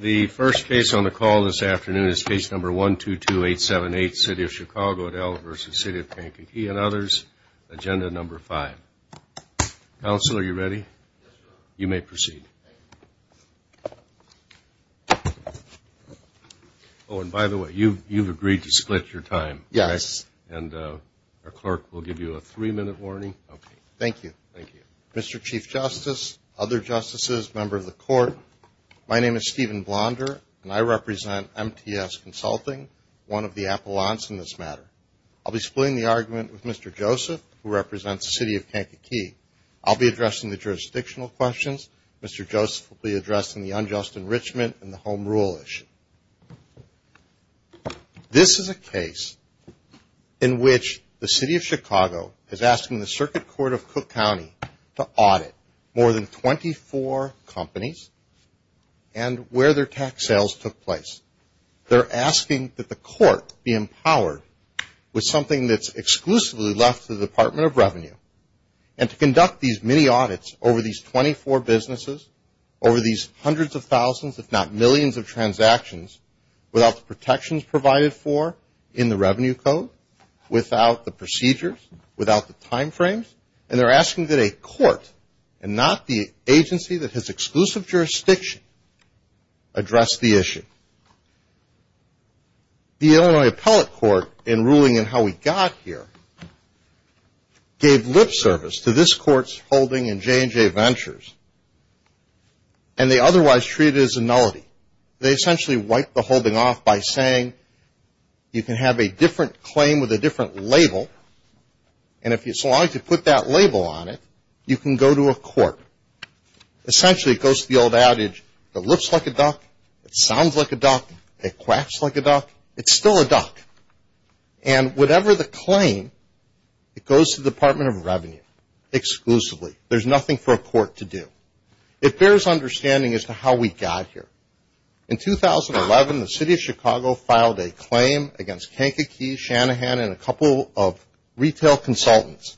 The first case on the call this afternoon is case number 122878, City of Chicago v. City of Kankakee and others. Agenda number five. Counsel, are you ready? You may proceed. Oh, and by the way, you've agreed to split your time. Yes. And our clerk will give you a three-minute warning. Okay. Thank you. Thank you. Mr. Chief Justice, other justices, members of the court, my name is Stephen Blonder, and I represent MTS Consulting, one of the appellants in this matter. I'll be splitting the argument with Mr. Joseph, who represents the City of Kankakee. I'll be addressing the jurisdictional questions. Mr. Joseph will be addressing the unjust enrichment and the home rule issue. This is a case in which the City of Chicago is asking the Circuit Court of Cook County to audit more than 24 companies and where their tax sales took place. They're asking that the court be empowered with something that's exclusively left to the Department of Revenue and to conduct these mini-audits over these 24 businesses, over these hundreds of thousands, if not millions of transactions, without the protections provided for in the Revenue Code, without the procedures, without the time frames, and they're asking that a court and not the agency that has exclusive jurisdiction address the issue. The Illinois Appellate Court, in ruling in how we got here, gave lip service to this court's holding in J&J Ventures, and they otherwise treated it as a nullity. They essentially wiped the holding off by saying you can have a different claim with a different label, and so long as you put that label on it, you can go to a court. Essentially, it goes to the old adage, it looks like a duck, it sounds like a duck, it quacks like a duck, it's still a duck. And whatever the claim, it goes to the Department of Revenue exclusively. There's nothing for a court to do. It bears understanding as to how we got here. In 2011, the City of Chicago filed a claim against Kankakee, Shanahan, and a couple of retail consultants.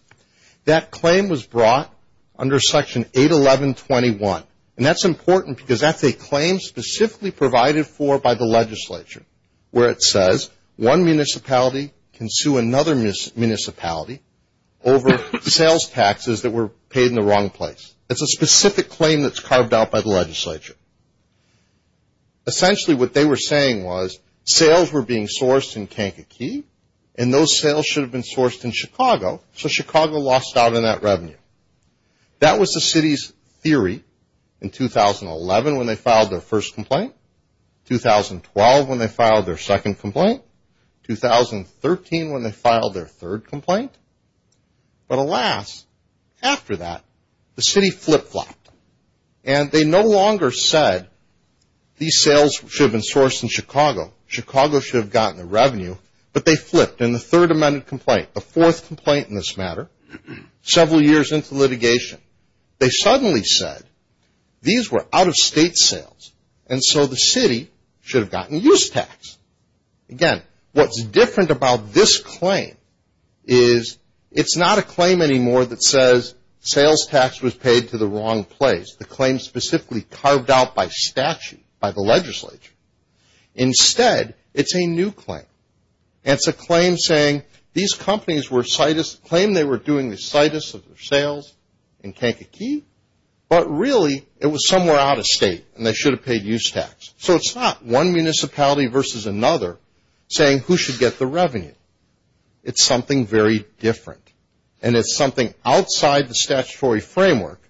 That claim was brought under Section 811.21, and that's important because that's a claim specifically provided for by the legislature, where it says one municipality can sue another municipality over sales taxes that were paid in the wrong place. It's a specific claim that's carved out by the legislature. Essentially, what they were saying was sales were being sourced in Kankakee, and those sales should have been sourced in Chicago, so Chicago lost out on that revenue. That was the city's theory in 2011 when they filed their first complaint, 2012 when they filed their second complaint, 2013 when they filed their third complaint. But alas, after that, the city flip-flopped, and they no longer said these sales should have been sourced in Chicago. Chicago should have gotten the revenue, but they flipped. In the third amended complaint, the fourth complaint in this matter, several years into litigation, they suddenly said these were out-of-state sales, and so the city should have gotten use tax. Again, what's different about this claim is it's not a claim anymore that says sales tax was paid to the wrong place, the claim specifically carved out by statute by the legislature. Instead, it's a new claim, and it's a claim saying these companies were citus, claim they were doing the citus of their sales in Kankakee, but really it was somewhere out-of-state, and they should have paid use tax. So it's not one municipality versus another saying who should get the revenue. It's something very different, and it's something outside the statutory framework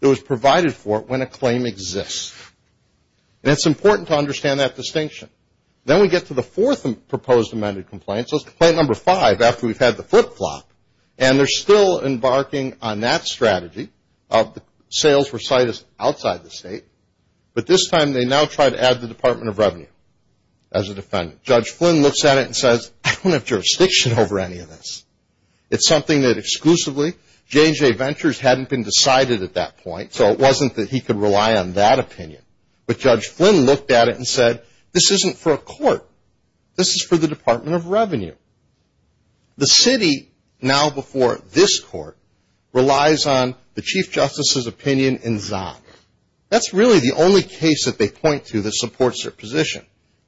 that was provided for when a claim exists. And it's important to understand that distinction. Then we get to the fourth proposed amended complaint, so it's complaint number five after we've had the flip-flop, and they're still embarking on that strategy of the sales were citus outside the state, but this time they now try to add the Department of Revenue as a defendant. Judge Flynn looks at it and says, I don't have jurisdiction over any of this. It's something that exclusively J.J. Ventures hadn't been decided at that point, so it wasn't that he could rely on that opinion. But Judge Flynn looked at it and said, this isn't for a court. This is for the Department of Revenue. The city now before this court relies on the Chief Justice's opinion in Zon. That's really the only case that they point to that supports their position.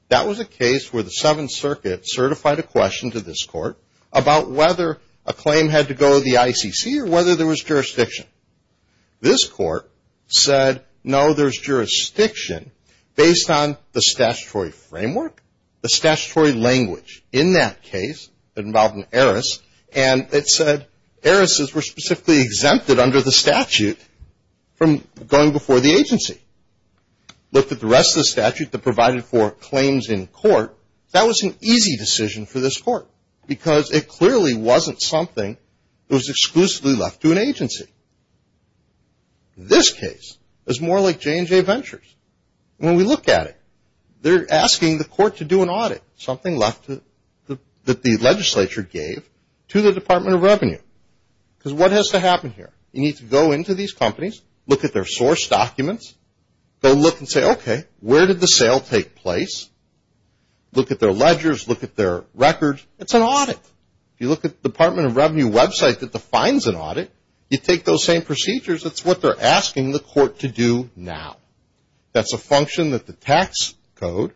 That was a case where the Seventh Circuit certified a question to this court about whether a claim had to go to the ICC or whether there was jurisdiction. This court said, no, there's jurisdiction based on the statutory framework, the statutory language. In that case, it involved an heiress, and it said heiresses were specifically exempted under the statute from going before the agency. Looked at the rest of the statute that provided for claims in court, that was an easy decision for this court because it clearly wasn't something that was exclusively left to an agency. This case is more like J.J. Ventures. When we look at it, they're asking the court to do an audit, something that the legislature gave to the Department of Revenue. Because what has to happen here? You need to go into these companies, look at their source documents, go look and say, okay, where did the sale take place, look at their ledgers, look at their records. It's an audit. If you look at the Department of Revenue website that defines an audit, you take those same procedures. That's what they're asking the court to do now. That's a function that the tax code,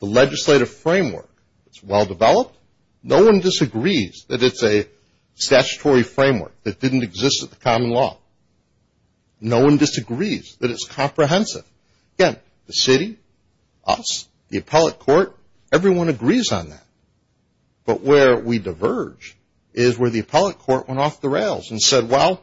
the legislative framework, it's well-developed. No one disagrees that it's a statutory framework that didn't exist at the common law. No one disagrees that it's comprehensive. Again, the city, us, the appellate court, everyone agrees on that. But where we diverge is where the appellate court went off the rails and said, well,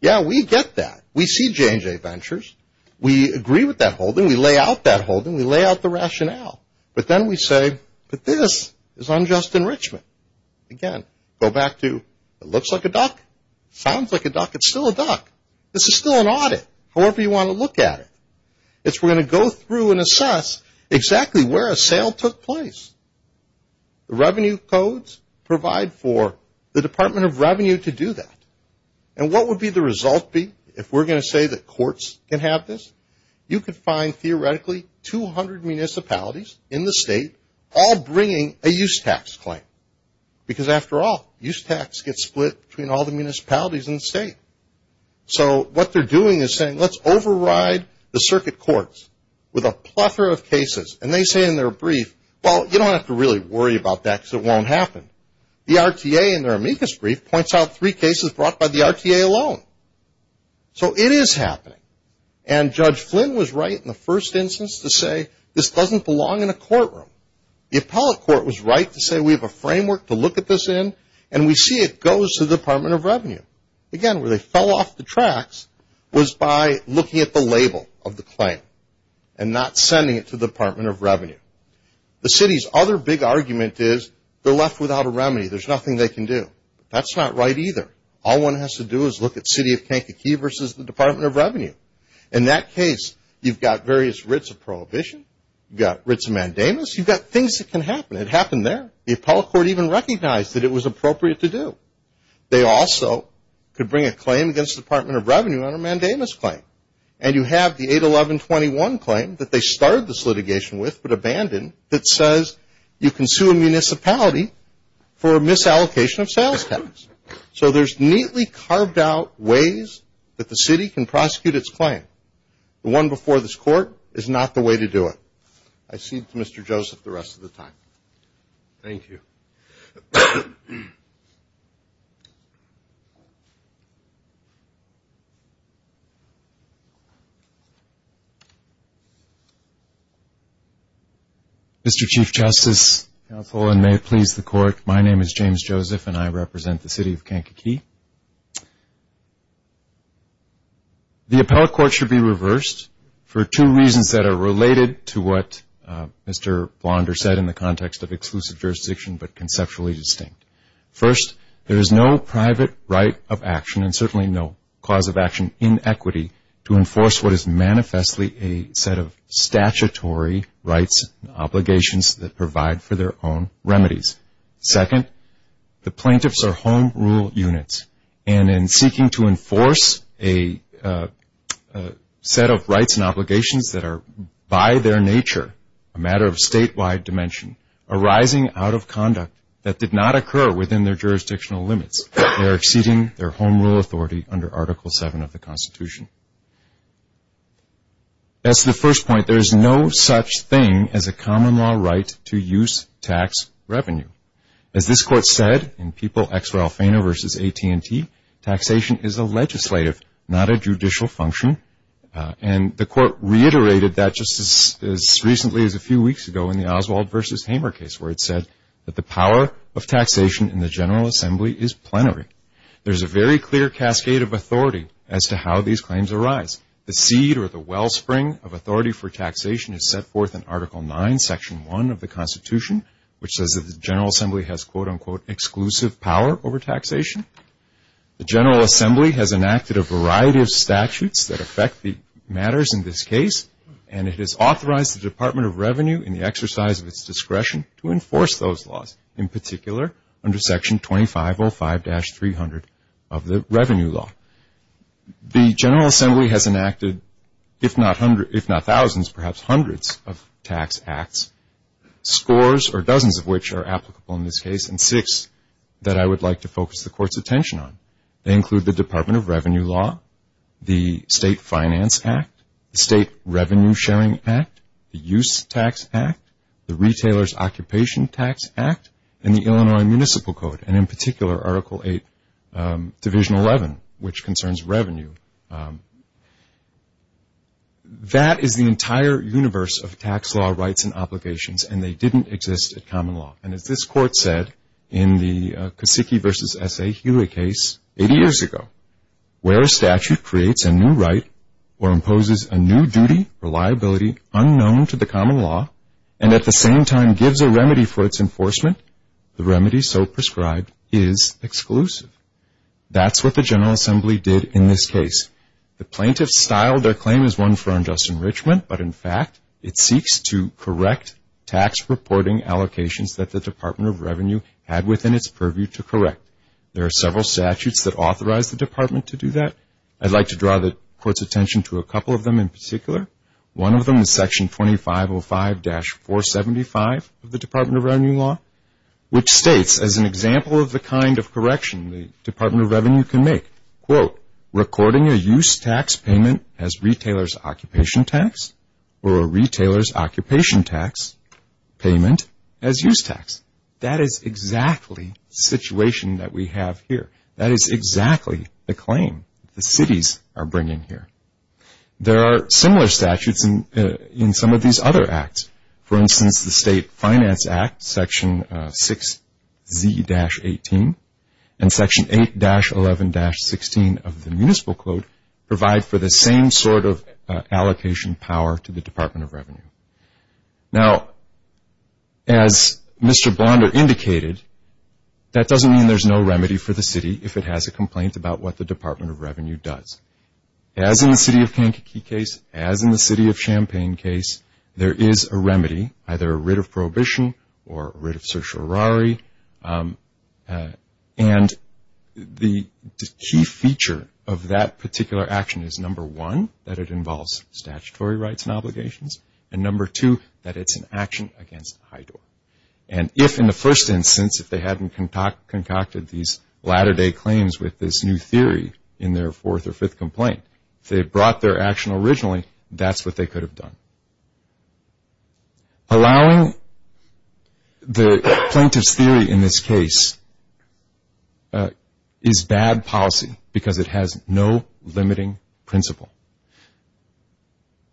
yeah, we get that. We see J.J. Ventures. We agree with that holding. We lay out that holding. We lay out the rationale. But then we say, but this is unjust enrichment. Again, go back to it looks like a duck, sounds like a duck, it's still a duck. This is still an audit. However you want to look at it. It's we're going to go through and assess exactly where a sale took place. The revenue codes provide for the Department of Revenue to do that. And what would be the result be if we're going to say that courts can have this? You could find theoretically 200 municipalities in the state all bringing a use tax claim. Because after all, use tax gets split between all the municipalities in the state. So what they're doing is saying let's override the circuit courts with a plethora of cases. And they say in their brief, well, you don't have to really worry about that because it won't happen. The RTA in their amicus brief points out three cases brought by the RTA alone. So it is happening. And Judge Flynn was right in the first instance to say this doesn't belong in a courtroom. The appellate court was right to say we have a framework to look at this in. And we see it goes to the Department of Revenue. Again, where they fell off the tracks was by looking at the label of the claim and not sending it to the Department of Revenue. The city's other big argument is they're left without a remedy. There's nothing they can do. That's not right either. All one has to do is look at City of Kankakee versus the Department of Revenue. In that case, you've got various writs of prohibition. You've got writs of mandamus. You've got things that can happen. It happened there. The appellate court even recognized that it was appropriate to do. They also could bring a claim against the Department of Revenue on a mandamus claim. And you have the 81121 claim that they started this litigation with but abandoned that says you can sue a municipality for a misallocation of sales tax. So there's neatly carved out ways that the city can prosecute its claim. The one before this court is not the way to do it. I cede to Mr. Joseph the rest of the time. Thank you. Mr. Chief Justice, counsel, and may it please the Court, my name is James Joseph and I represent the City of Kankakee. The appellate court should be reversed for two reasons that are related to what Mr. Blonder said in the context of exclusive jurisdiction but conceptually distinct. First, there is no private right of action and certainly no cause of action in equity to enforce what is manifestly a set of statutory rights and obligations that provide for their own remedies. Second, the plaintiffs are home rule units, and in seeking to enforce a set of rights and obligations that are by their nature a matter of statewide dimension arising out of conduct that did not occur within their jurisdictional limits. They are exceeding their home rule authority under Article 7 of the Constitution. As to the first point, there is no such thing as a common law right to use tax revenue. As this court said in People v. AT&T, taxation is a legislative, not a judicial function, and the court reiterated that just as recently as a few weeks ago in the Oswald v. Hamer case where it said that the power of taxation in the General Assembly is plenary. There is a very clear cascade of authority as to how these claims arise. The seed or the wellspring of authority for taxation is set forth in Article 9, Section 1 of the Constitution, which says that the General Assembly has, quote, unquote, exclusive power over taxation. The General Assembly has enacted a variety of statutes that affect the matters in this case, and it has authorized the Department of Revenue in the exercise of its discretion to enforce those laws, in particular under Section 2505-300 of the Revenue Law. The General Assembly has enacted if not thousands, perhaps hundreds of tax acts, scores or dozens of which are applicable in this case, and six that I would like to focus the court's attention on. They include the Department of Revenue Law, the State Finance Act, the State Revenue Sharing Act, the Use Tax Act, the Retailer's Occupation Tax Act, and the Illinois Municipal Code, and in particular Article 8, Division 11, which concerns revenue. That is the entire universe of tax law rights and obligations, and they didn't exist at common law. And as this court said in the Kosicki v. S. A. Hewitt case 80 years ago, where a statute creates a new right or imposes a new duty or liability unknown to the common law, and at the same time gives a remedy for its enforcement, the remedy so prescribed is exclusive. That's what the General Assembly did in this case. The plaintiffs styled their claim as one for unjust enrichment, but in fact it seeks to correct tax reporting allocations that the Department of Revenue had within its purview to correct. There are several statutes that authorize the department to do that. I'd like to draw the court's attention to a couple of them in particular. One of them is Section 2505-475 of the Department of Revenue Law, which states as an example of the kind of correction the Department of Revenue can make, quote, recording a use tax payment as retailer's occupation tax or a retailer's occupation tax payment as use tax. That is exactly the situation that we have here. That is exactly the claim the cities are bringing here. There are similar statutes in some of these other acts. For instance, the State Finance Act, Section 6Z-18, and Section 8-11-16 of the Municipal Code provide for the same sort of allocation power to the Department of Revenue. Now, as Mr. Blonder indicated, that doesn't mean there's no remedy for the city if it has a complaint about what the Department of Revenue does. As in the city of Kankakee case, as in the city of Champaign case, there is a remedy, either a writ of prohibition or a writ of certiorari. And the key feature of that particular action is, number one, that it involves statutory rights and obligations, and number two, that it's an action against HIDOR. And if, in the first instance, if they hadn't concocted these latter-day claims with this new theory in their fourth or fifth complaint, if they had brought their action originally, that's what they could have done. Allowing the plaintiff's theory in this case is bad policy because it has no limiting principle.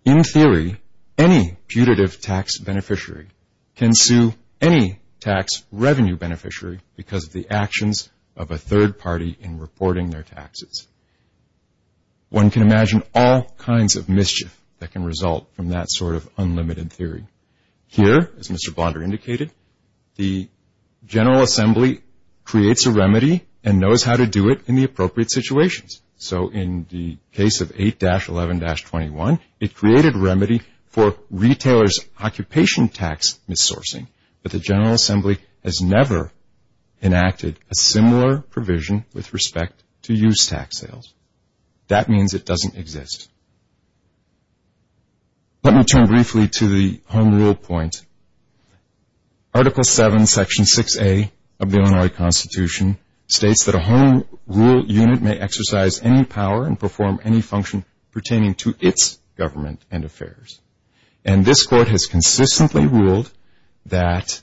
In theory, any putative tax beneficiary can sue any tax revenue beneficiary because of the actions of a third party in reporting their taxes. One can imagine all kinds of mischief that can result from that sort of unlimited theory. Here, as Mr. Blonder indicated, the General Assembly creates a remedy and knows how to do it in the appropriate situations. So in the case of 8-11-21, it created a remedy for retailers' occupation tax missourcing, but the General Assembly has never enacted a similar provision with respect to use tax sales. That means it doesn't exist. Let me turn briefly to the Home Rule point. Article 7, Section 6A of the Illinois Constitution states that a Home Rule unit may exercise any power and perform any function pertaining to its government and affairs. And this Court has consistently ruled that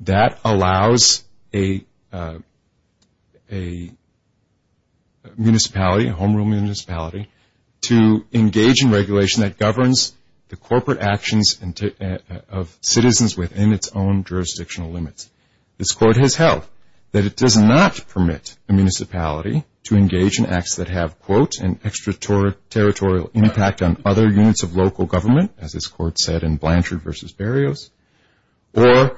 that allows a municipality, a Home Rule municipality, to engage in regulation that governs the corporate actions of citizens within its own jurisdictional limits. This Court has held that it does not permit a municipality to engage in acts that have, quote, an extraterritorial impact on other units of local government, as this Court said in Blanchard v. Barrios, or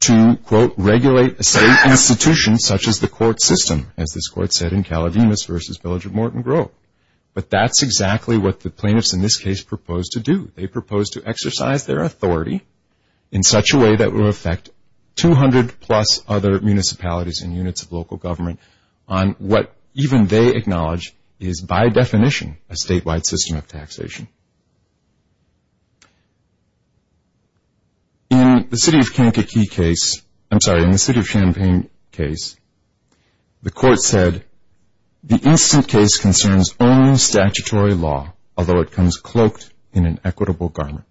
to, quote, regulate a state institution such as the court system, as this Court said in Calavimus v. Village of Morton Grove. But that's exactly what the plaintiffs in this case proposed to do. They proposed to exercise their authority in such a way that will affect 200-plus other municipalities and units of local government on what even they acknowledge is, by definition, a statewide system of taxation. In the City of Kankakee case, I'm sorry, in the City of Champaign case, the Court said, the instant case concerns only statutory law, although it comes cloaked in an equitable garment.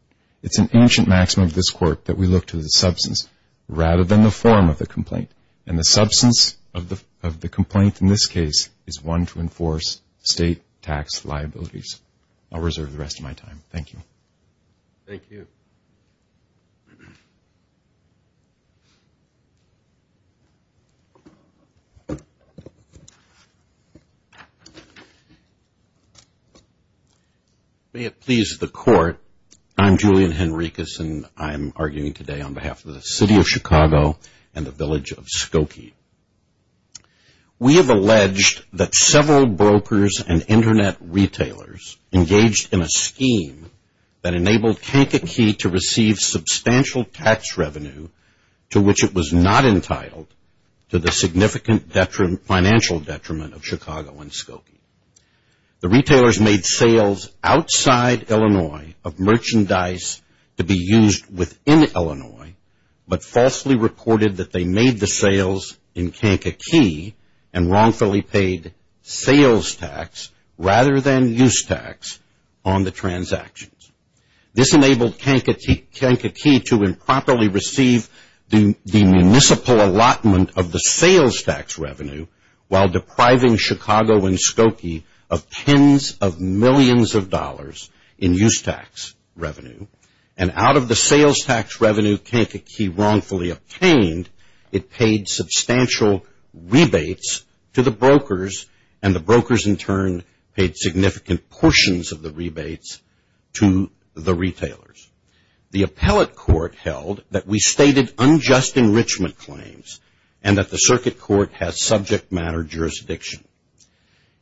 It's an ancient maxim of this Court that we look to the substance rather than the form of the complaint, and the substance of the complaint in this case is one to enforce state tax liabilities. I'll reserve the rest of my time. Thank you. Thank you. May it please the Court, I'm Julian Henricus, and I'm arguing today on behalf of the City of Chicago and the Village of Skokie. We have alleged that several brokers and Internet retailers engaged in a scheme that enabled Kankakee to receive substantial tax revenue to which it was not entitled to the significant financial detriment of Chicago and Skokie. The retailers made sales outside Illinois of merchandise to be used within Illinois, but falsely reported that they made the sales in Kankakee and wrongfully paid sales tax rather than use tax on the transactions. This enabled Kankakee to improperly receive the municipal allotment of the sales tax revenue while depriving Chicago and Skokie of tens of millions of dollars in use tax revenue, and out of the sales tax revenue Kankakee wrongfully obtained, it paid substantial rebates to the brokers, and the brokers in turn paid significant portions of the rebates to the retailers. The appellate court held that we stated unjust enrichment claims and that the circuit court has subject matter jurisdiction.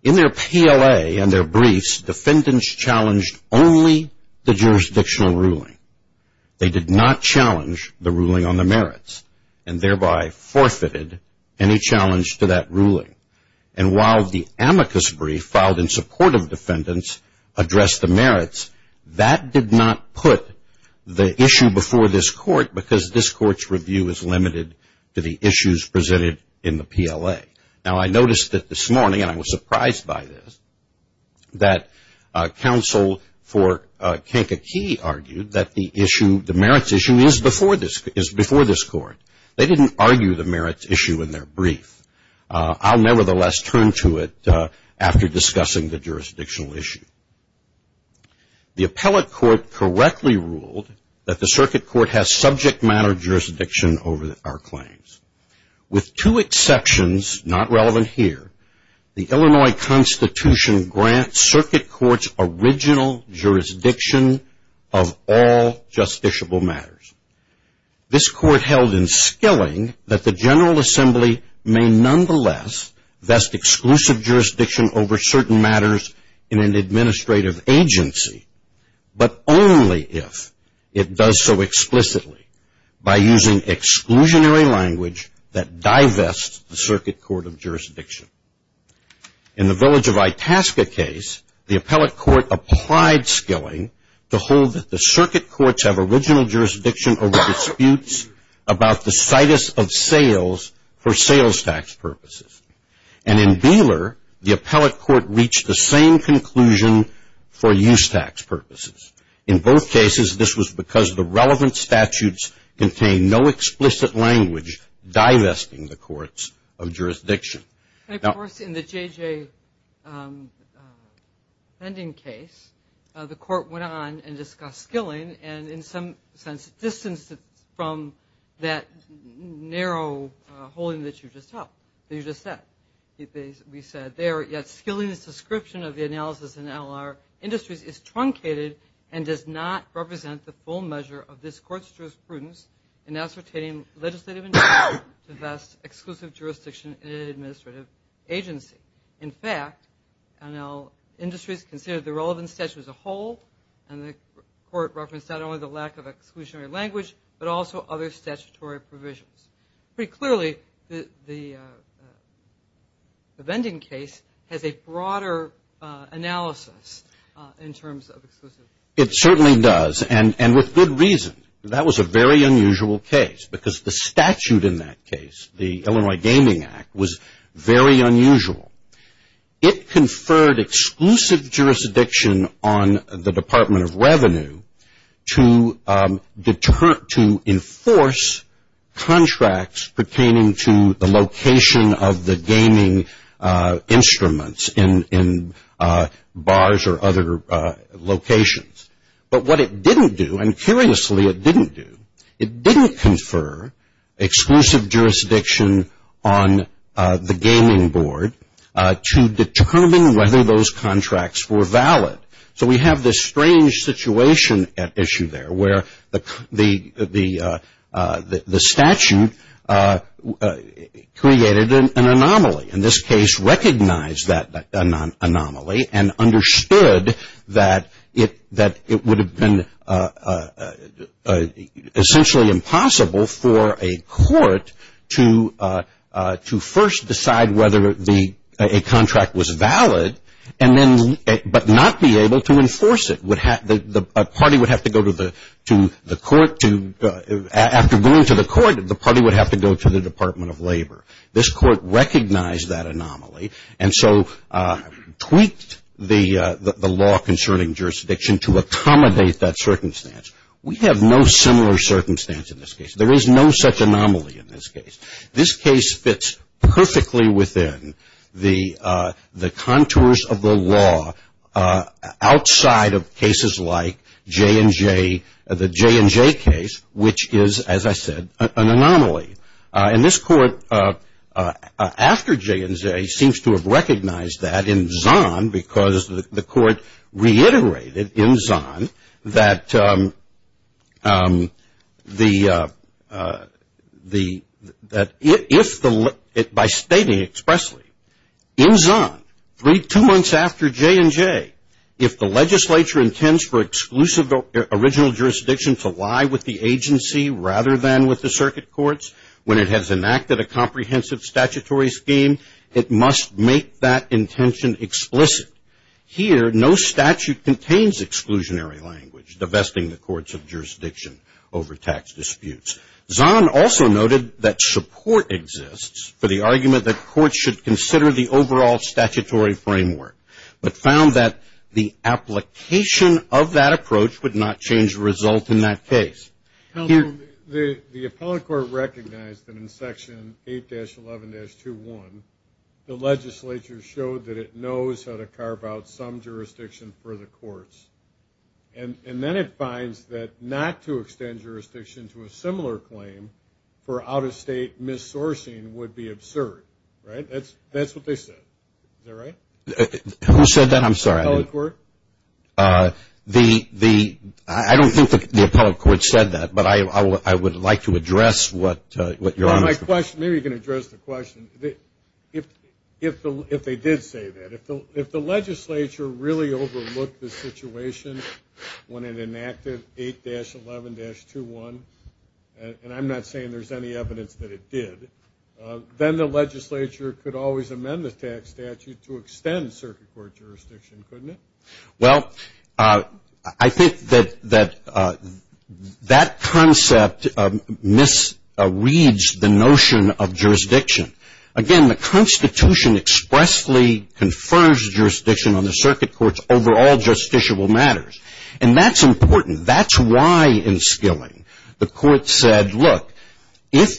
In their PLA and their briefs, defendants challenged only the jurisdictional ruling. They did not challenge the ruling on the merits, and thereby forfeited any challenge to that ruling. And while the amicus brief filed in support of defendants addressed the merits, that did not put the issue before this court because this court's review is limited to the issues presented in the PLA. Now, I noticed that this morning, and I was surprised by this, that counsel for Kankakee argued that the merits issue is before this court. They didn't argue the merits issue in their brief. I'll nevertheless turn to it after discussing the jurisdictional issue. The appellate court correctly ruled that the circuit court has subject matter jurisdiction over our claims. With two exceptions, not relevant here, the Illinois Constitution grants circuit courts original jurisdiction of all justiciable matters. This court held in skilling that the General Assembly may nonetheless vest exclusive jurisdiction over certain matters in an administrative agency, but only if it does so explicitly by using exclusionary language that divests the circuit court of jurisdiction. In the Village of Itasca case, the appellate court applied skilling to hold that the circuit courts have original jurisdiction over disputes about the situs of sales for sales tax purposes. And in Beeler, the appellate court reached the same conclusion for use tax purposes. In both cases, this was because the relevant statutes contained no explicit language divesting the courts of jurisdiction. Of course, in the JJ pending case, the court went on and discussed skilling and in some sense distanced it from that narrow holding that you just said. We said there, yet skilling's description of the analysis in NLR Industries is truncated and does not represent the full measure of this court's jurisprudence in ascertaining legislative integrity to vest exclusive jurisdiction in an administrative agency. In fact, NL Industries considered the relevant statute as a whole and the court referenced not only the lack of exclusionary language, but also other statutory provisions. Pretty clearly, the pending case has a broader analysis in terms of exclusivity. It certainly does and with good reason. That was a very unusual case because the statute in that case, the Illinois Gaming Act, was very unusual. It conferred exclusive jurisdiction on the Department of Revenue to enforce contracts pertaining to the location of the gaming instruments in bars or other locations. But what it didn't do, and curiously it didn't do, it didn't confer exclusive jurisdiction on the gaming board to determine whether those contracts were valid. So we have this strange situation at issue there where the statute created an anomaly. And this case recognized that anomaly and understood that it would have been essentially impossible for a court to first decide whether a contract was valid, but not be able to enforce it. A party would have to go to the court to, after going to the court, the party would have to go to the Department of Labor. This court recognized that anomaly and so tweaked the law concerning jurisdiction to accommodate that circumstance. We have no similar circumstance in this case. There is no such anomaly in this case. This case fits perfectly within the contours of the law outside of cases like J&J, the J&J case, which is, as I said, an anomaly. And this court, after J&J, seems to have recognized that in Zahn because the court reiterated in Zahn that if the, by stating expressly, in Zahn, three, two months after J&J, if the legislature intends for exclusive original jurisdiction to lie with the agency rather than with the circuit courts, when it has enacted a comprehensive statutory scheme, it must make that intention explicit. Here, no statute contains exclusionary language, divesting the courts of jurisdiction over tax disputes. Zahn also noted that support exists for the argument that courts should consider the overall statutory framework, but found that the application of that approach would not change the result in that case. The appellate court recognized that in Section 8-11-21, the legislature showed that it knows how to carve out some jurisdiction for the courts. And then it finds that not to extend jurisdiction to a similar claim for out-of-state missourcing would be absurd, right? That's what they said. Is that right? Who said that? I'm sorry. The appellate court? I don't think the appellate court said that, but I would like to address what Your Honor said. Maybe you can address the question. If they did say that, if the legislature really overlooked the situation when it enacted 8-11-21, and I'm not saying there's any evidence that it did, then the legislature could always amend the statute to extend circuit court jurisdiction, couldn't it? Well, I think that that concept misreads the notion of jurisdiction. Again, the Constitution expressly confers jurisdiction on the circuit court's overall justiciable matters, and that's important. That's why in Skilling the court said, look, if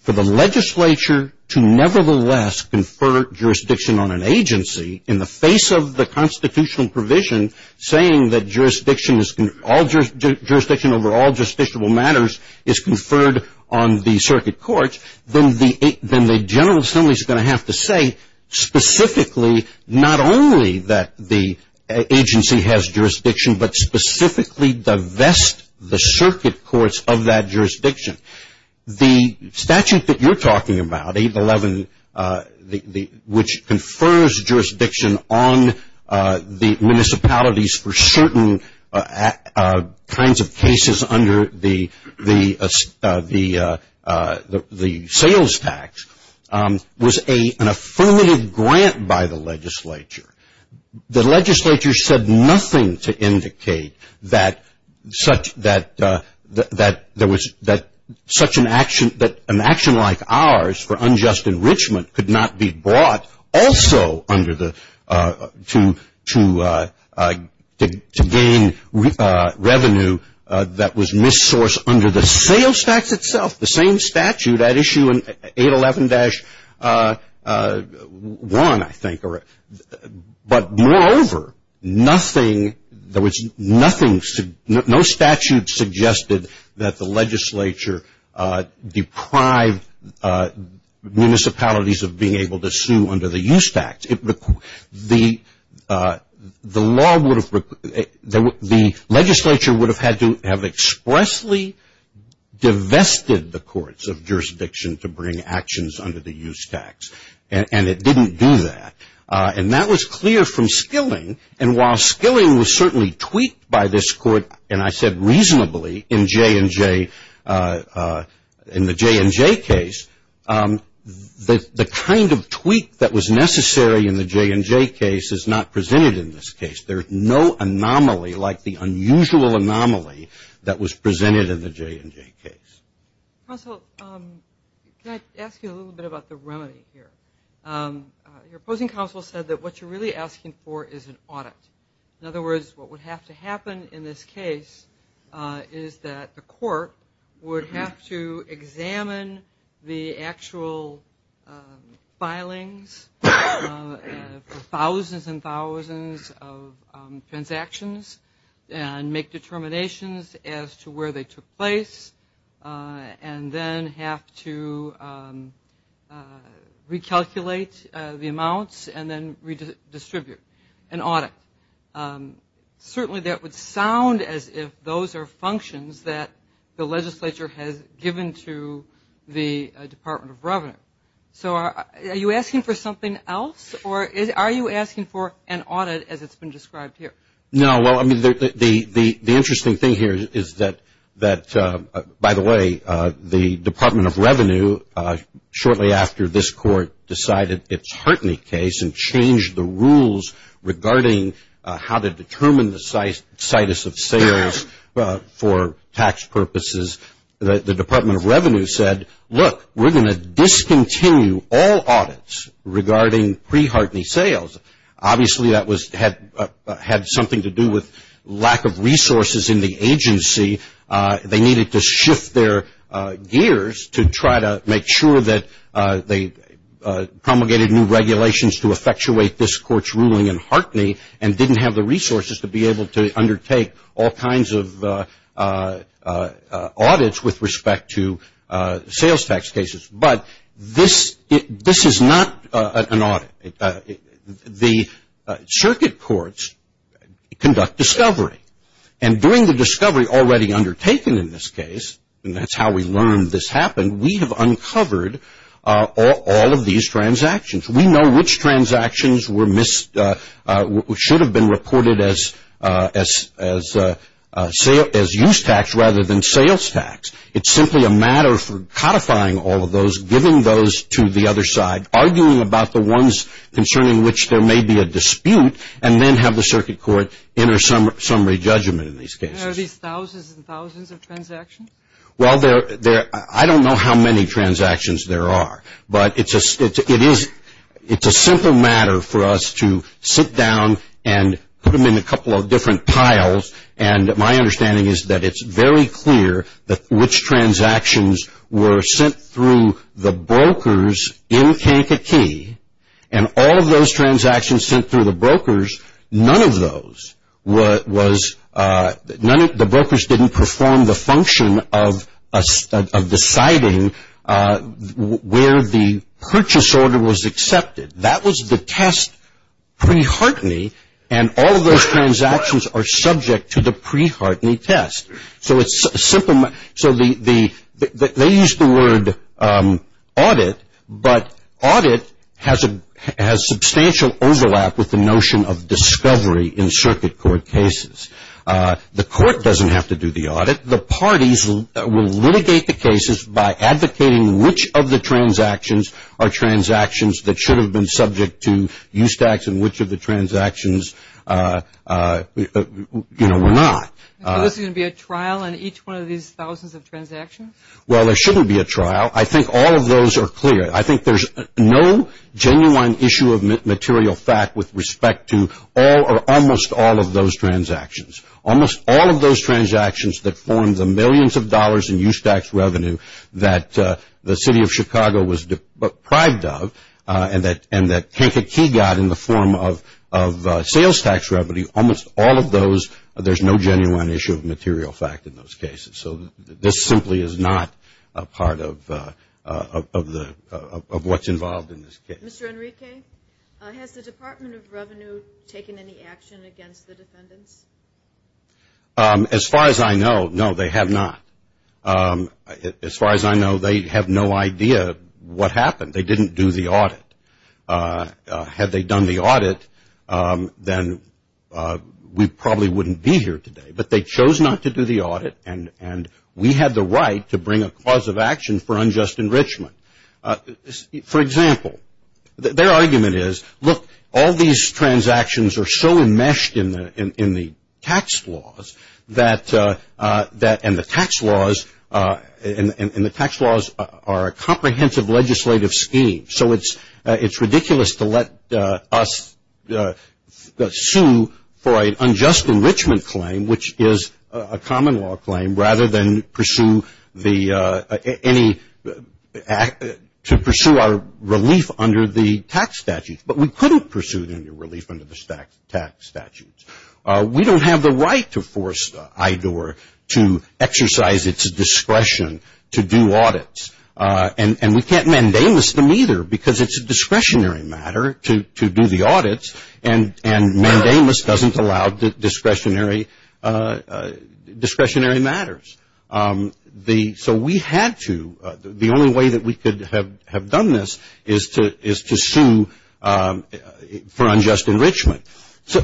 for the legislature to nevertheless confer jurisdiction on an agency in the face of the constitutional provision saying that jurisdiction over all justiciable matters is conferred on the circuit court, then the General Assembly is going to have to say specifically not only that the agency has jurisdiction, but specifically divest the circuit courts of that jurisdiction. The statute that you're talking about, 8-11, which confers jurisdiction on the municipalities for certain kinds of cases under the sales tax, was an affirmative grant by the legislature. The legislature said nothing to indicate that such an action, that an action like ours for unjust enrichment could not be brought also to gain revenue that was mis-sourced under the sales tax itself, the same statute at issue in 8-11-1, I think. But moreover, nothing, there was nothing, no statute suggested that the legislature deprive municipalities of being able to sue under the use tax. The legislature would have had to have expressly divested the courts of jurisdiction to bring actions under the use tax, and it didn't do that. And that was clear from Skilling, and while Skilling was certainly tweaked by this court, and I said reasonably in J&J, in the J&J case, the kind of tweak that was necessary in the J&J case is not presented in this case. There is no anomaly like the unusual anomaly that was presented in the J&J case. Counsel, can I ask you a little bit about the remedy here? Your opposing counsel said that what you're really asking for is an audit. In other words, what would have to happen in this case is that the court would have to examine the actual filings for thousands and thousands of transactions and make determinations as to where they took place and then have to recalculate the amounts and then redistribute, an audit. Certainly that would sound as if those are functions that the legislature has given to the Department of Revenue. So are you asking for something else, or are you asking for an audit as it's been described here? No. Well, I mean, the interesting thing here is that, by the way, the Department of Revenue shortly after this court decided its Hartnett case and changed the rules regarding how to determine the situs of sales for tax purposes, the Department of Revenue said, look, we're going to discontinue all audits regarding pre-Hartnett sales. Obviously that had something to do with lack of resources in the agency. They needed to shift their gears to try to make sure that they promulgated new regulations to effectuate this court's ruling in Hartnett and didn't have the resources to be able to undertake all kinds of audits with respect to sales tax cases. But this is not an audit. The circuit courts conduct discovery. And during the discovery already undertaken in this case, and that's how we learned this happened, we have uncovered all of these transactions. We know which transactions should have been reported as use tax rather than sales tax. It's simply a matter of codifying all of those, giving those to the other side, arguing about the ones concerning which there may be a dispute, and then have the circuit court enter summary judgment in these cases. Are these thousands and thousands of transactions? Well, I don't know how many transactions there are. But it's a simple matter for us to sit down and put them in a couple of different tiles. And my understanding is that it's very clear which transactions were sent through the brokers in Kankakee, and all of those transactions sent through the brokers, none of those was the brokers didn't perform the function of deciding where the purchase order was accepted. That was the test preheartening, and all of those transactions are subject to the preheartening test. So it's a simple matter. So they use the word audit, but audit has substantial overlap with the notion of discovery in circuit court cases. The court doesn't have to do the audit. The parties will litigate the cases by advocating which of the transactions are transactions that should have been subject to USTACs and which of the transactions were not. Is there going to be a trial in each one of these thousands of transactions? Well, there shouldn't be a trial. I think all of those are clear. I think there's no genuine issue of material fact with respect to all or almost all of those transactions. Almost all of those transactions that form the millions of dollars in USTACs revenue that the city of Chicago was deprived of and that Kankakee got in the form of sales tax revenue, almost all of those, there's no genuine issue of material fact in those cases. So this simply is not a part of what's involved in this case. Mr. Enrique, has the Department of Revenue taken any action against the defendants? As far as I know, no, they have not. As far as I know, they have no idea what happened. They didn't do the audit. Had they done the audit, then we probably wouldn't be here today. But they chose not to do the audit, and we had the right to bring a cause of action for unjust enrichment. For example, their argument is, look, all these transactions are so enmeshed in the tax laws and the tax laws are a comprehensive legislative scheme, so it's ridiculous to let us sue for an unjust enrichment claim, which is a common law claim, rather than pursue our relief under the tax statutes. But we couldn't pursue the relief under the tax statutes. We don't have the right to force IDOR to exercise its discretion to do audits, and we can't mandamus them either because it's a discretionary matter to do the audits, and mandamus doesn't allow discretionary matters. So we had to. The only way that we could have done this is to sue for unjust enrichment.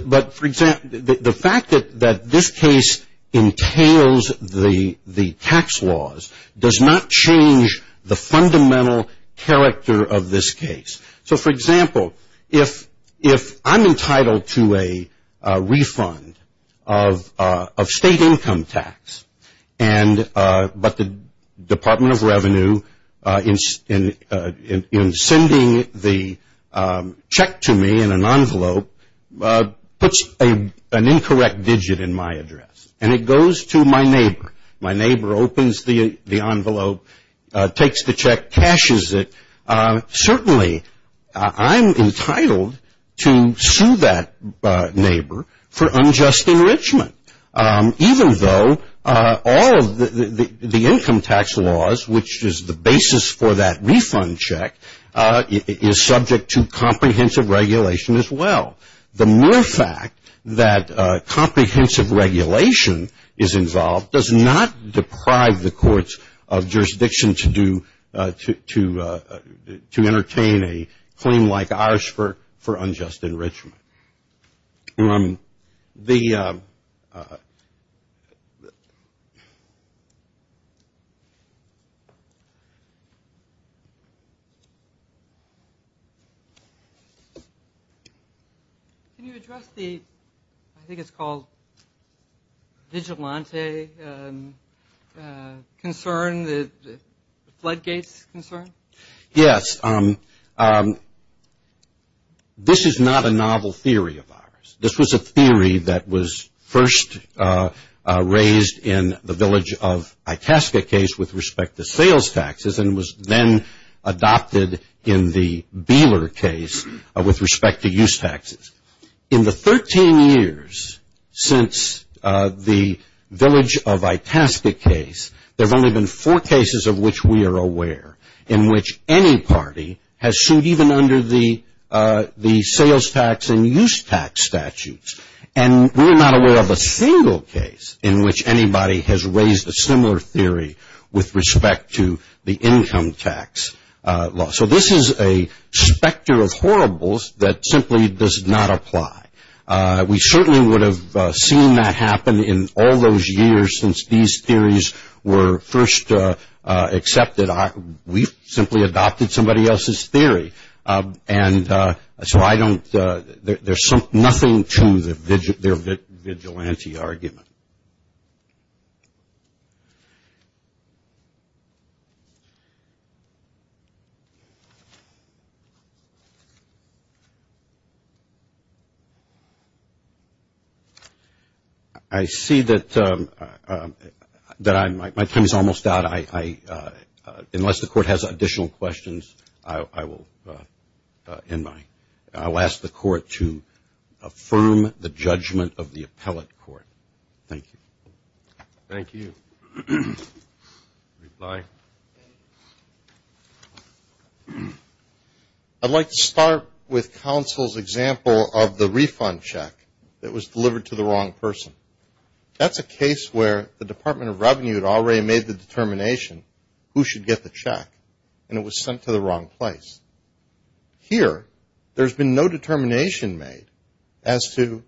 But the fact that this case entails the tax laws does not change the fundamental character of this case. So, for example, if I'm entitled to a refund of state income tax, but the Department of Revenue in sending the check to me in an envelope puts an incorrect digit in my address and it goes to my neighbor, my neighbor opens the envelope, takes the check, caches it, certainly I'm entitled to sue that neighbor for unjust enrichment, even though all of the income tax laws, which is the basis for that refund check, is subject to comprehensive regulation as well. The mere fact that comprehensive regulation is involved does not deprive the courts of jurisdiction to do, to entertain a claim like ours for unjust enrichment. Can you address the, I think it's called vigilante concern, the floodgates concern? Yes. This is not a novel theory of ours. This was a theory that was first raised in the Village of Itasca case with respect to sales taxes and was then adopted in the Beeler case with respect to use taxes. In the 13 years since the Village of Itasca case, there have only been four cases of which we are aware. In which any party has sued even under the sales tax and use tax statutes. And we are not aware of a single case in which anybody has raised a similar theory with respect to the income tax law. So this is a specter of horribles that simply does not apply. We certainly would have seen that happen in all those years since these theories were first accepted. We simply adopted somebody else's theory. And so I don't, there's nothing to their vigilante argument. I see that my time is almost out. Unless the court has additional questions, I will end mine. I'll ask the court to affirm the judgment of the appellate court. Thank you. Thank you. Reply. I'd like to start with counsel's example of the refund check that was delivered to the wrong person. That's a case where the Department of Revenue had already made the determination who should get the check. And it was sent to the wrong place. Here, there's been no determination made as to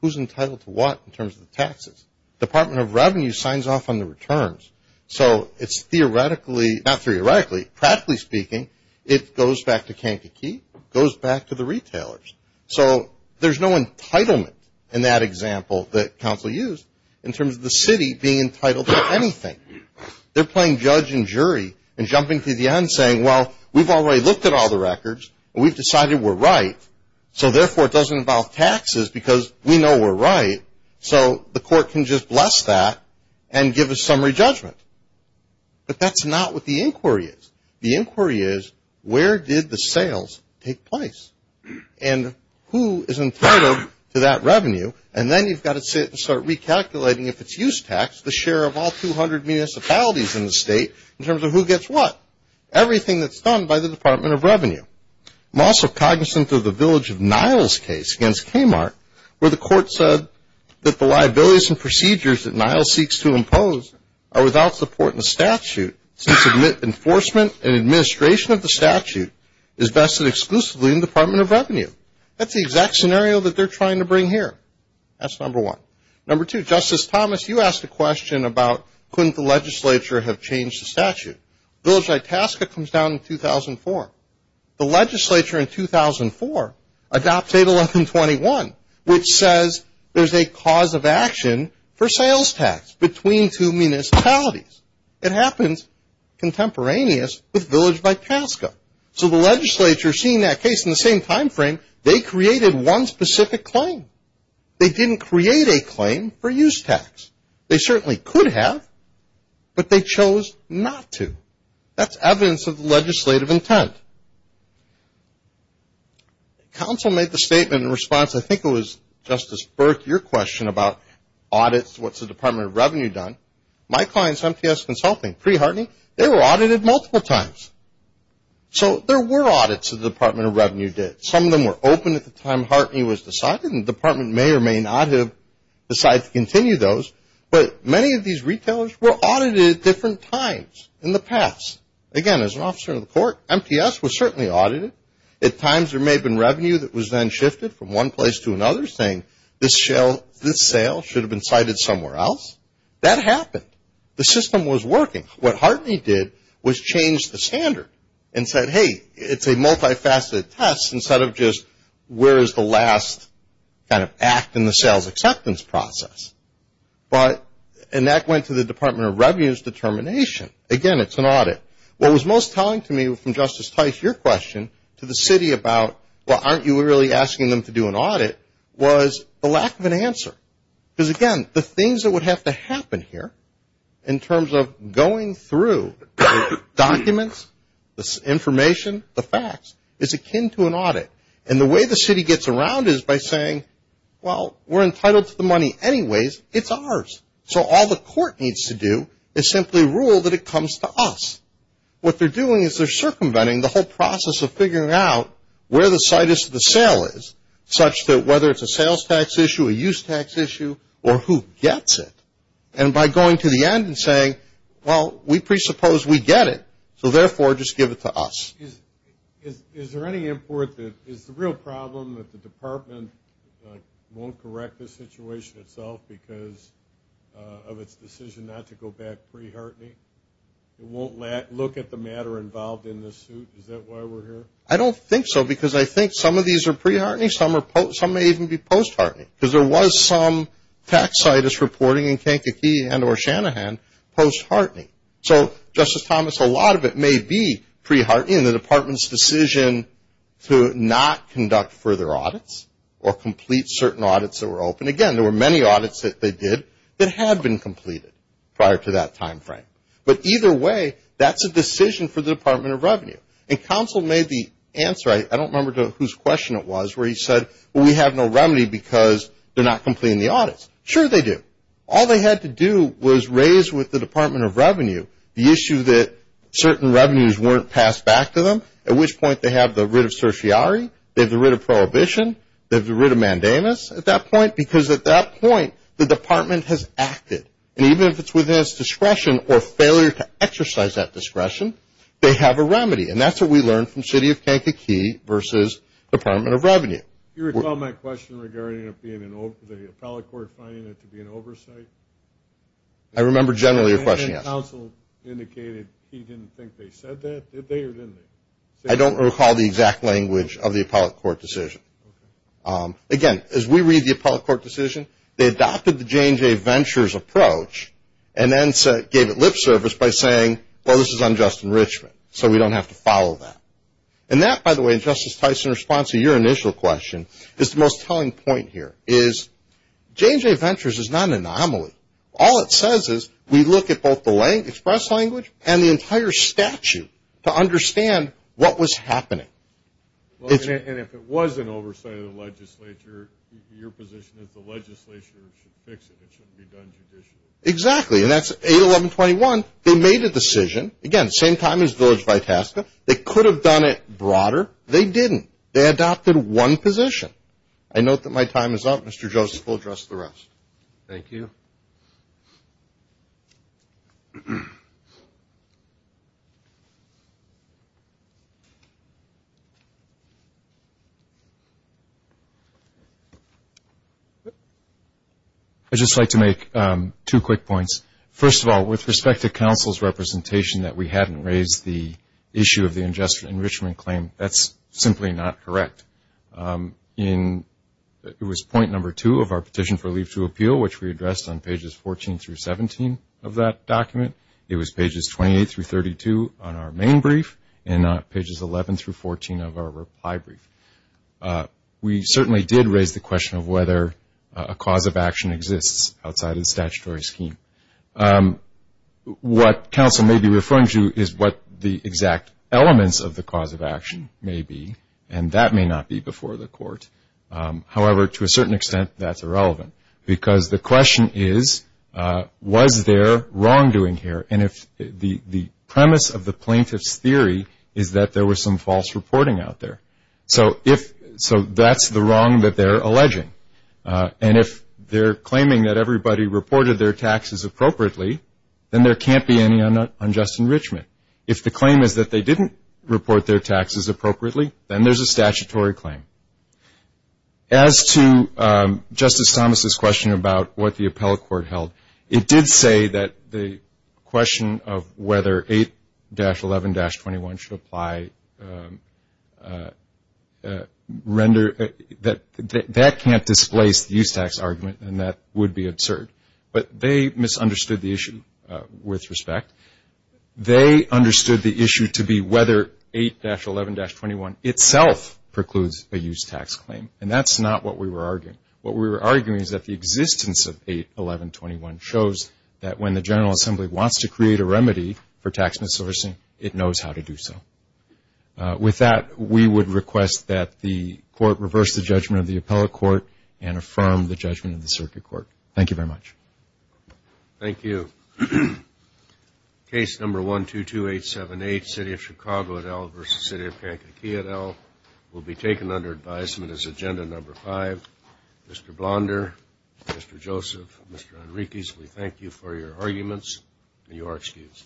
who's entitled to what in terms of the taxes. Department of Revenue signs off on the returns. So it's theoretically, not theoretically, practically speaking, it goes back to Kankakee. It goes back to the retailers. So there's no entitlement in that example that counsel used in terms of the city being entitled to anything. They're playing judge and jury and jumping to the end saying, well, we've already looked at all the records and we've decided we're right, so therefore it doesn't involve taxes because we know we're right. So the court can just bless that and give a summary judgment. But that's not what the inquiry is. The inquiry is, where did the sales take place? And who is entitled to that revenue? And then you've got to sit and start recalculating if it's use tax, the share of all 200 municipalities in the state in terms of who gets what. Everything that's done by the Department of Revenue. I'm also cognizant of the Village of Niles case against Kmart where the court said that the liabilities and procedures that Niles seeks to impose are without support in the statute since enforcement and administration of the statute is vested exclusively in the Department of Revenue. That's the exact scenario that they're trying to bring here. That's number one. Number two, Justice Thomas, you asked a question about couldn't the legislature have changed the statute. Village Itasca comes down in 2004. The legislature in 2004 adopts 81121, which says there's a cause of action for sales tax between two municipalities. It happens contemporaneous with Village Itasca. So the legislature, seeing that case in the same time frame, they created one specific claim. They didn't create a claim for use tax. They certainly could have, but they chose not to. That's evidence of the legislative intent. Counsel made the statement in response, I think it was Justice Burke, your question about audits, what's the Department of Revenue done. My clients, MTS Consulting, pre-Hartney, they were audited multiple times. So there were audits the Department of Revenue did. Some of them were open at the time Hartney was decided, and the department may or may not have decided to continue those. But many of these retailers were audited at different times in the past. Again, as an officer of the court, MTS was certainly audited. At times there may have been revenue that was then shifted from one place to another, saying this sale should have been cited somewhere else. That happened. The system was working. What Hartney did was change the standard and said, hey, it's a multifaceted test, instead of just where is the last kind of act in the sales acceptance process. And that went to the Department of Revenue's determination. Again, it's an audit. What was most telling to me from Justice Tice, your question, to the city about, well, aren't you really asking them to do an audit, was the lack of an answer. Because, again, the things that would have to happen here, in terms of going through the documents, the information, the facts, is akin to an audit. And the way the city gets around is by saying, well, we're entitled to the money anyways. It's ours. So all the court needs to do is simply rule that it comes to us. What they're doing is they're circumventing the whole process of figuring out where the site is that the sale is, such that whether it's a sales tax issue, a use tax issue, or who gets it. And by going to the end and saying, well, we presuppose we get it. So, therefore, just give it to us. Is there any import that is the real problem that the department won't correct the situation itself because of its decision not to go back pre-Hartney? It won't look at the matter involved in this suit? Is that why we're here? I don't think so because I think some of these are pre-Hartney. Some may even be post-Hartney. Because there was some taxitis reporting in Kankakee and or Shanahan post-Hartney. So, Justice Thomas, a lot of it may be pre-Hartney and the department's decision to not conduct further audits or complete certain audits that were open. And, again, there were many audits that they did that had been completed prior to that time frame. But either way, that's a decision for the Department of Revenue. And counsel made the answer. I don't remember whose question it was where he said, well, we have no remedy because they're not completing the audits. Sure they do. All they had to do was raise with the Department of Revenue the issue that certain revenues weren't passed back to them, at which point they have the writ of certiorari, they have the writ of prohibition, they have the writ of mandamus at that point because at that point the department has acted. And even if it's within its discretion or failure to exercise that discretion, they have a remedy. And that's what we learned from city of Kankakee versus Department of Revenue. Do you recall my question regarding the appellate court finding it to be an oversight? I remember generally your question, yes. And counsel indicated he didn't think they said that. Did they or didn't they? I don't recall the exact language of the appellate court decision. Again, as we read the appellate court decision, they adopted the J&J Ventures approach and then gave it lip service by saying, well, this is unjust enrichment, so we don't have to follow that. And that, by the way, Justice Tyson, in response to your initial question, is the most telling point here, is J&J Ventures is not an anomaly. All it says is we look at both the express language and the entire statute to understand what was happening. And if it was an oversight of the legislature, your position is the legislature should fix it. It shouldn't be done judicially. Exactly. And that's 81121. They made a decision, again, same time as Village Vitasca. They could have done it broader. They didn't. They adopted one position. I note that my time is up. Mr. Joseph will address the rest. Thank you. I'd just like to make two quick points. First of all, with respect to counsel's representation that we hadn't raised the issue of the unjust enrichment claim, that's simply not correct. It was point number two of our petition for leave to appeal, which we addressed on pages 14 through 17 of that document. It was pages 28 through 32 on our main brief and not pages 11 through 14 of our reply brief. We certainly did raise the question of whether a cause of action exists outside of the statutory scheme. What counsel may be referring to is what the exact elements of the cause of action may be, and that may not be before the court. However, to a certain extent, that's irrelevant. Because the question is, was there wrongdoing here? And the premise of the plaintiff's theory is that there was some false reporting out there. So that's the wrong that they're alleging. And if they're claiming that everybody reported their taxes appropriately, then there can't be any unjust enrichment. If the claim is that they didn't report their taxes appropriately, then there's a statutory claim. As to Justice Thomas' question about what the appellate court held, it did say that the question of whether 8-11-21 should apply rendered that that can't displace the use tax argument, and that would be absurd. But they misunderstood the issue with respect. They understood the issue to be whether 8-11-21 itself precludes a use tax claim, and that's not what we were arguing. What we were arguing is that the existence of 8-11-21 shows that when the General Assembly wants to create a remedy for tax missourcing, it knows how to do so. With that, we would request that the court reverse the judgment of the appellate court and affirm the judgment of the circuit court. Thank you very much. Thank you. Case number 122878, City of Chicago et al. v. City of Kankakee et al. will be taken under advisement as Agenda Number 5. Mr. Blonder, Mr. Joseph, Mr. Enriquez, we thank you for your arguments, and you are excused.